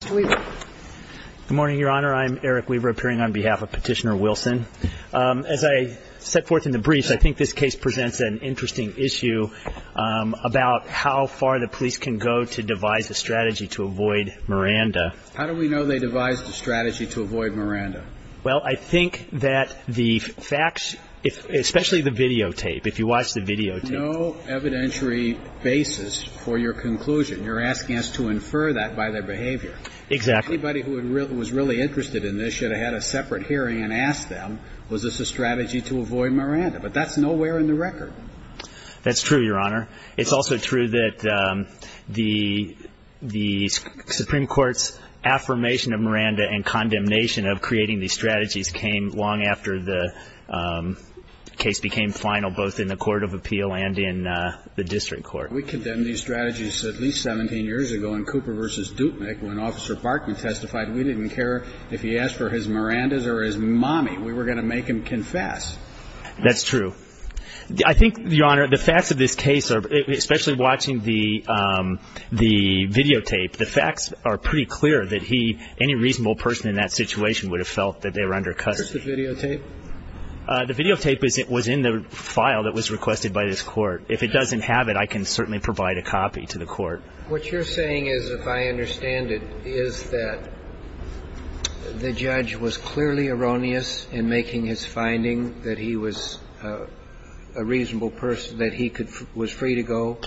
Good morning, your honor. I'm Eric Weaver appearing on behalf of Petitioner Wilson. As I set forth in the briefs, I think this case presents an interesting issue about how far the police can go to devise a strategy to avoid Miranda. How do we know they devised a strategy to avoid Miranda? Well, I think that the facts, especially the videotape, if you watch the videotape. There's no evidentiary basis for your conclusion. You're asking us to infer that by their behavior. Exactly. Anybody who was really interested in this should have had a separate hearing and asked them, was this a strategy to avoid Miranda? But that's nowhere in the record. That's true, your honor. It's also true that the Supreme Court's affirmation of Miranda and condemnation of creating these strategies came long after the case became final, both in the Court of Appeal and in the District Court. We condemned these strategies at least 17 years ago in Cooper v. Dupnick when Officer Barkman testified. We didn't care if he asked for his Mirandas or his mommy. We were going to make him confess. That's true. I think, your honor, the facts of this case, especially watching the videotape, the facts are pretty clear that any reasonable person in that situation would have felt that they were under custody. Where's the videotape? The videotape was in the file that was requested by this Court. If it doesn't have it, I can certainly provide a copy to the Court. What you're saying is, if I understand it, is that the judge was clearly erroneous in making his finding that he was a reasonable person, that he was free to go,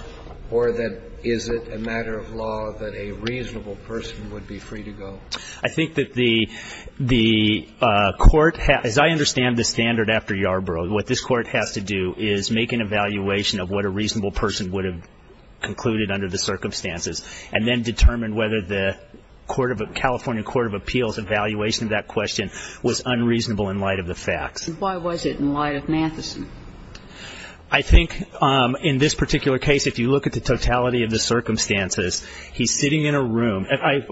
or that is it a matter of law that a reasonable person would be free to go? I think that the Court, as I understand the standard after Yarbrough, what this Court has to do is make an evaluation of what a reasonable person would have concluded under the circumstances, and then determine whether the California Court of Appeals evaluation of that question was unreasonable in light of the facts. Why was it in light of Matheson? I think in this particular case, if you look at the totality of the circumstances, he's sitting in a room. I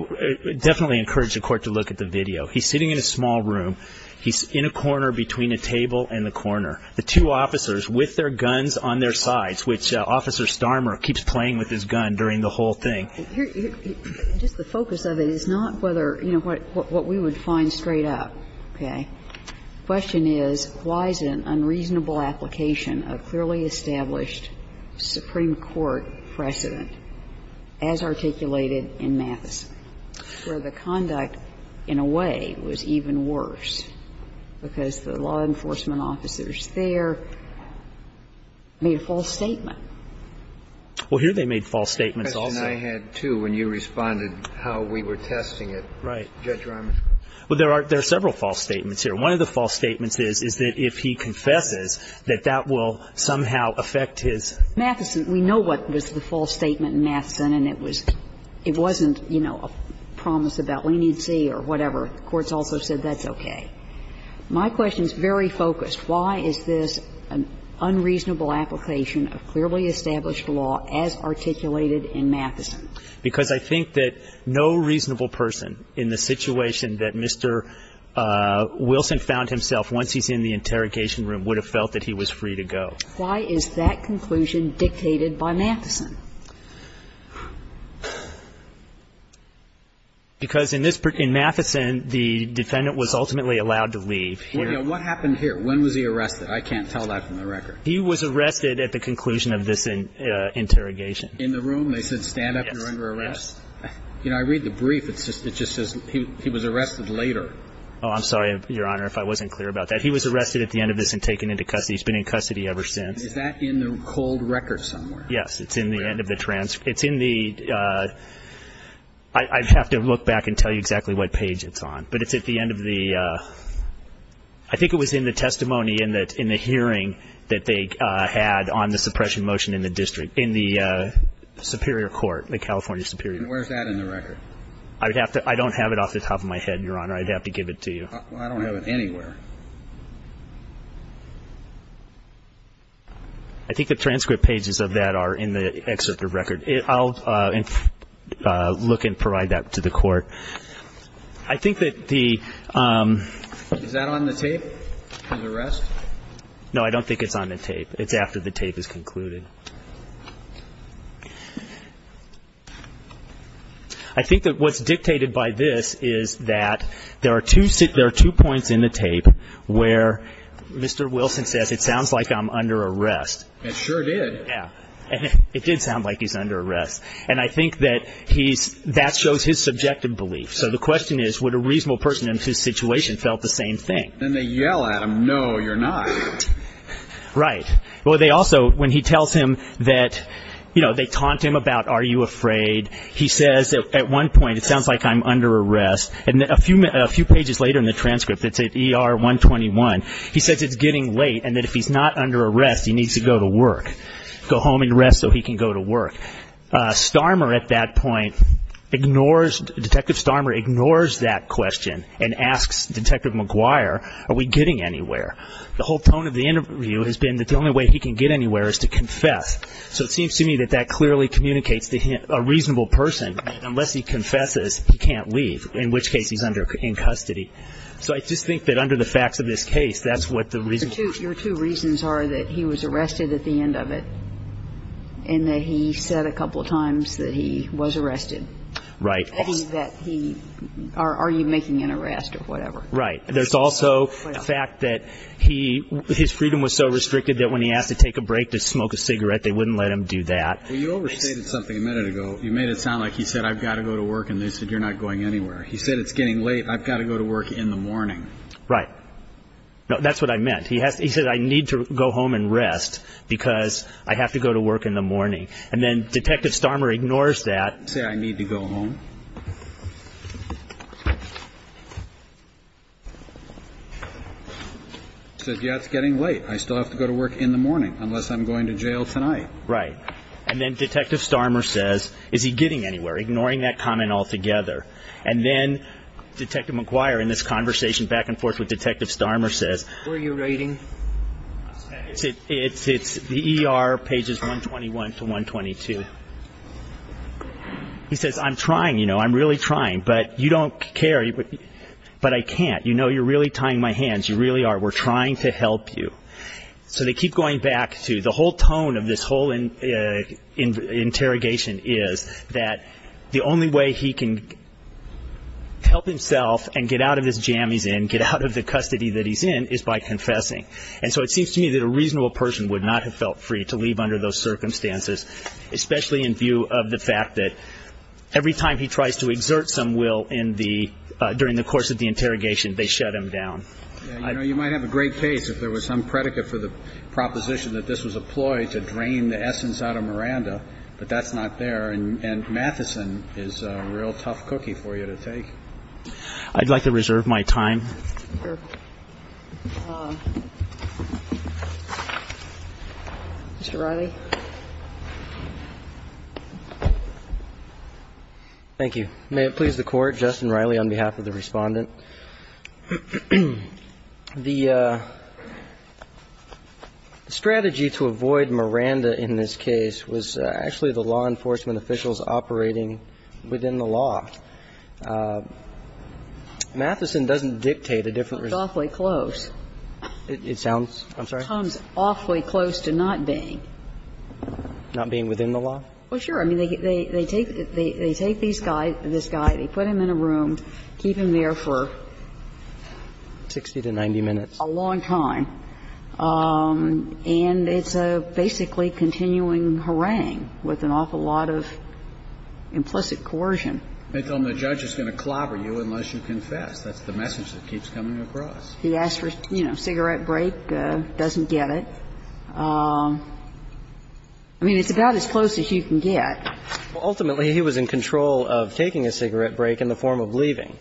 definitely encourage the Court to look at the video. He's sitting in a small room. He's in a corner between a table and the corner. The two officers with their guns on their sides, which Officer Starmer keeps playing with his gun during the whole thing. Just the focus of it is not whether, you know, what we would find straight up, okay? The question is, why is it an unreasonable application of clearly established Supreme Court precedent, as articulated in Matheson, where the conduct in a way was even worse because the law enforcement officers there made a false statement? Well, here they made false statements also. The question I had, too, when you responded how we were testing it. Judge Rahman. Well, there are several false statements here. One of the false statements is that if he confesses, that that will somehow affect his. Matheson. We know what was the false statement in Matheson, and it wasn't, you know, a promise about leniency or whatever. The Court's also said that's okay. My question is very focused. Why is this an unreasonable application of clearly established law as articulated in Matheson? Because I think that no reasonable person in the situation that Mr. Wilson found himself once he's in the interrogation room would have felt that he was free to go. Why is that conclusion dictated by Matheson? Because in this prison, in Matheson, the defendant was ultimately allowed to leave. Well, yeah. What happened here? When was he arrested? I can't tell that from the record. He was arrested at the conclusion of this interrogation. In the room, they said, stand up, you're under arrest? Yes. You know, I read the brief. It just says he was arrested later. Oh, I'm sorry, Your Honor, if I wasn't clear about that. He was arrested at the end of this and taken into custody. He's been in custody ever since. Is that in the cold record somewhere? Yes. It's in the end of the transcript. It's in the – I'd have to look back and tell you exactly what page it's on. But it's at the end of the – I think it was in the testimony in the hearing that they had on the suppression motion in the district, in the Superior Court, the California Superior Court. And where's that in the record? I would have to – I don't have it off the top of my head, Your Honor. I'd have to give it to you. I don't have it anywhere. I think the transcript pages of that are in the excerpt of record. I'll look and provide that to the court. I think that the – Is that on the tape, his arrest? No, I don't think it's on the tape. It's after the tape is concluded. I think that what's dictated by this is that there are two points in the tape where Mr. Wilson says, it sounds like I'm under arrest. It sure did. Yeah. It did sound like he's under arrest. And I think that he's – that shows his subjective belief. So the question is, would a reasonable person in his situation felt the same thing? Then they yell at him, no, you're not. Right. Well, they also, when he tells him that, you know, they taunt him about, are you afraid, he says at one point, it sounds like I'm under arrest. And a few pages later in the transcript, it's at ER 121, he says it's getting late and that if he's not under arrest, he needs to go to work, go home and rest so he can go to work. Starmer at that point ignores – Detective Starmer ignores that question and asks Detective McGuire, are we getting anywhere? The whole tone of the interview has been that the only way he can get anywhere is to confess. So it seems to me that that clearly communicates to a reasonable person, unless he confesses, he can't leave, in which case he's under – in custody. So I just think that under the facts of this case, that's what the reason – Your two reasons are that he was arrested at the end of it and that he said a couple of times that he was arrested. Right. That he – are you making an arrest or whatever. Right. There's also the fact that he – his freedom was so restricted that when he asked to take a break to smoke a cigarette, they wouldn't let him do that. Well, you overstated something a minute ago. You made it sound like he said I've got to go to work and they said you're not going anywhere. He said it's getting late, I've got to go to work in the morning. Right. No, that's what I meant. He said I need to go home and rest because I have to go to work in the morning. And then Detective Starmer ignores that. Say I need to go home. He said, yeah, it's getting late. I still have to go to work in the morning unless I'm going to jail tonight. Right. And then Detective Starmer says, is he getting anywhere, ignoring that comment altogether. And then Detective McGuire in this conversation back and forth with Detective Starmer says – What are you rating? It's the ER pages 121 to 122. He says, I'm trying, you know, I'm really trying, but you don't care, but I can't. You know you're really tying my hands, you really are. We're trying to help you. So they keep going back to the whole tone of this whole interrogation is that the only way he can help himself and get out of this jam he's in, get out of the custody that he's in, is by confessing. And so it seems to me that a reasonable person would not have felt free to leave under those circumstances, especially in view of the fact that every time he tries to exert some will during the course of the interrogation, they shut him down. You know, you might have a great case if there was some predicate for the proposition that this was a ploy to drain the essence out of Miranda, but that's not there. And Matheson is a real tough cookie for you to take. I'd like to reserve my time. Sure. Mr. Riley. Thank you. May it please the Court. Justin Riley on behalf of the Respondent. The strategy to avoid Miranda in this case was actually the law enforcement officials operating within the law. Matheson doesn't dictate a different result. if they don't act within the law. But it's an awfully close. It sounds – I'm sorry? It comes awfully close to not being. Not being within the law? Well, sure. I mean, they take these guys, this guy, they put him in a room, keep him there for... Sixty to ninety minutes. ...a long time. And it's a basically continuing harangue with an awful lot of implicit coercion. They tell him the judge is going to clobber you unless you confess. That's the message that keeps coming across. He asks for, you know, a cigarette break, doesn't get it. I mean, it's about as close as you can get. Ultimately, he was in control of taking a cigarette break in the form of leaving.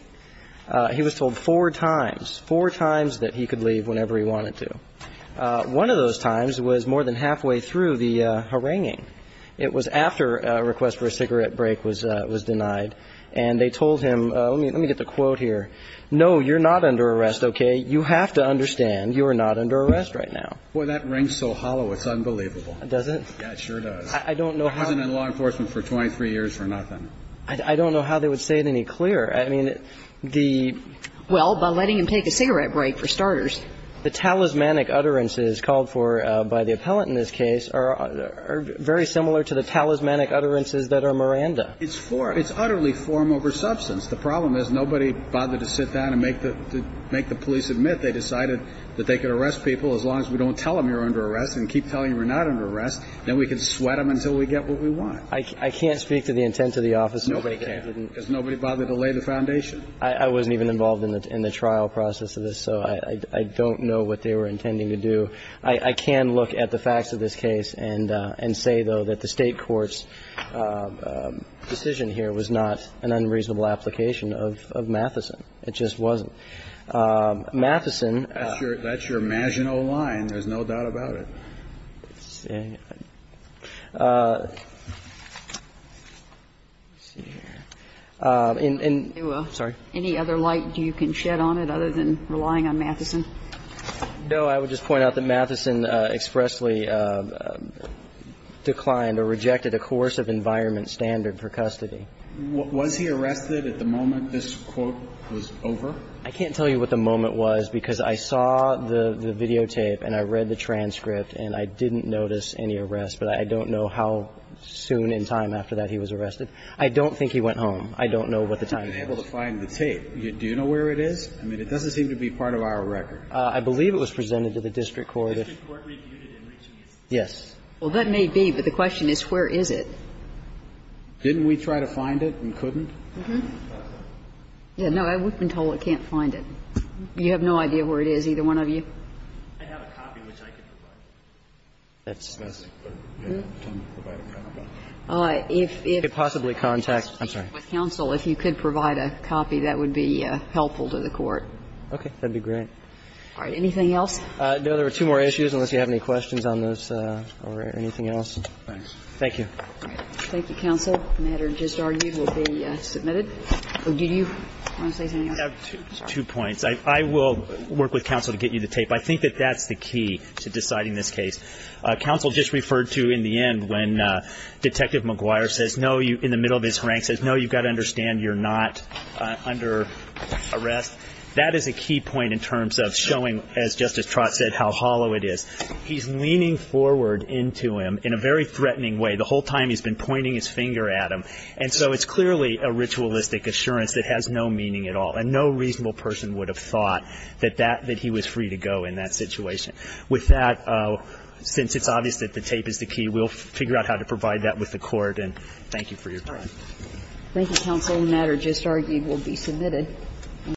He was told four times, four times that he could leave whenever he wanted to. One of those times was more than halfway through the haranguing. It was after a request for a cigarette break was denied. And they told him – let me get the quote here. No, you're not under arrest, okay? You have to understand, you are not under arrest right now. Boy, that rings so hollow, it's unbelievable. Does it? Yeah, it sure does. I don't know how... He wasn't in law enforcement for 23 years for nothing. I don't know how they would say it any clearer. I mean, the... Well, by letting him take a cigarette break, for starters. The talismanic utterances called for by the appellant in this case are very similar to the talismanic utterances that are Miranda. It's form. It's utterly form over substance. The problem is nobody bothered to sit down and make the police admit they decided that they could arrest people as long as we don't tell them you're under arrest and keep telling them you're not under arrest. Then we can sweat them until we get what we want. I can't speak to the intent of the office. Nobody can. Does nobody bother to lay the foundation? I wasn't even involved in the trial process of this, so I don't know what they were intending to do. I can look at the facts of this case and say, though, that the State court's decision here was not an unreasonable application of Matheson. It just wasn't. Matheson... That's your Maginot line. There's no doubt about it. Let's see. Any other light you can shed on it other than relying on Matheson? No. I would just point out that Matheson expressly declined or rejected a coercive environment standard for custody. Was he arrested at the moment this quote was over? I can't tell you what the moment was because I saw the videotape and I read the transcript and I didn't notice any arrest, but I don't know how soon in time after that he was arrested. I don't think he went home. I don't know what the time was. I haven't been able to find the tape. Do you know where it is? I mean, it doesn't seem to be part of our record. I believe it was presented to the district court. The district court reviewed it in reaching its decision. Yes. Well, that may be, but the question is where is it? Didn't we try to find it and couldn't? Uh-huh. Yeah, no. We've been told we can't find it. You have no idea where it is, either one of you? I have a copy which I can provide. If you could possibly contact counsel if you could provide a copy, that would be helpful to the court. Okay. That would be great. All right. Anything else? No. There are two more issues unless you have any questions on those or anything else. Thanks. Thank you. Thank you, counsel. The matter just argued will be submitted. Do you want to say something else? I have two points. I will work with counsel to get you the tape. I think that that's the key to deciding this case. Counsel just referred to in the end when Detective McGuire says, no, in the middle of his rank, says, no, you've got to understand you're not under arrest. That is a key point in terms of showing, as Justice Trott said, how hollow it is. He's leaning forward into him in a very threatening way. The whole time he's been pointing his finger at him. And so it's clearly a ritualistic assurance that has no meaning at all. And no reasonable person would have thought that that he was free to go in that situation. With that, since it's obvious that the tape is the key, we'll figure out how to provide that with the Court. And thank you for your time. Thank you, counsel. The matter just argued will be submitted.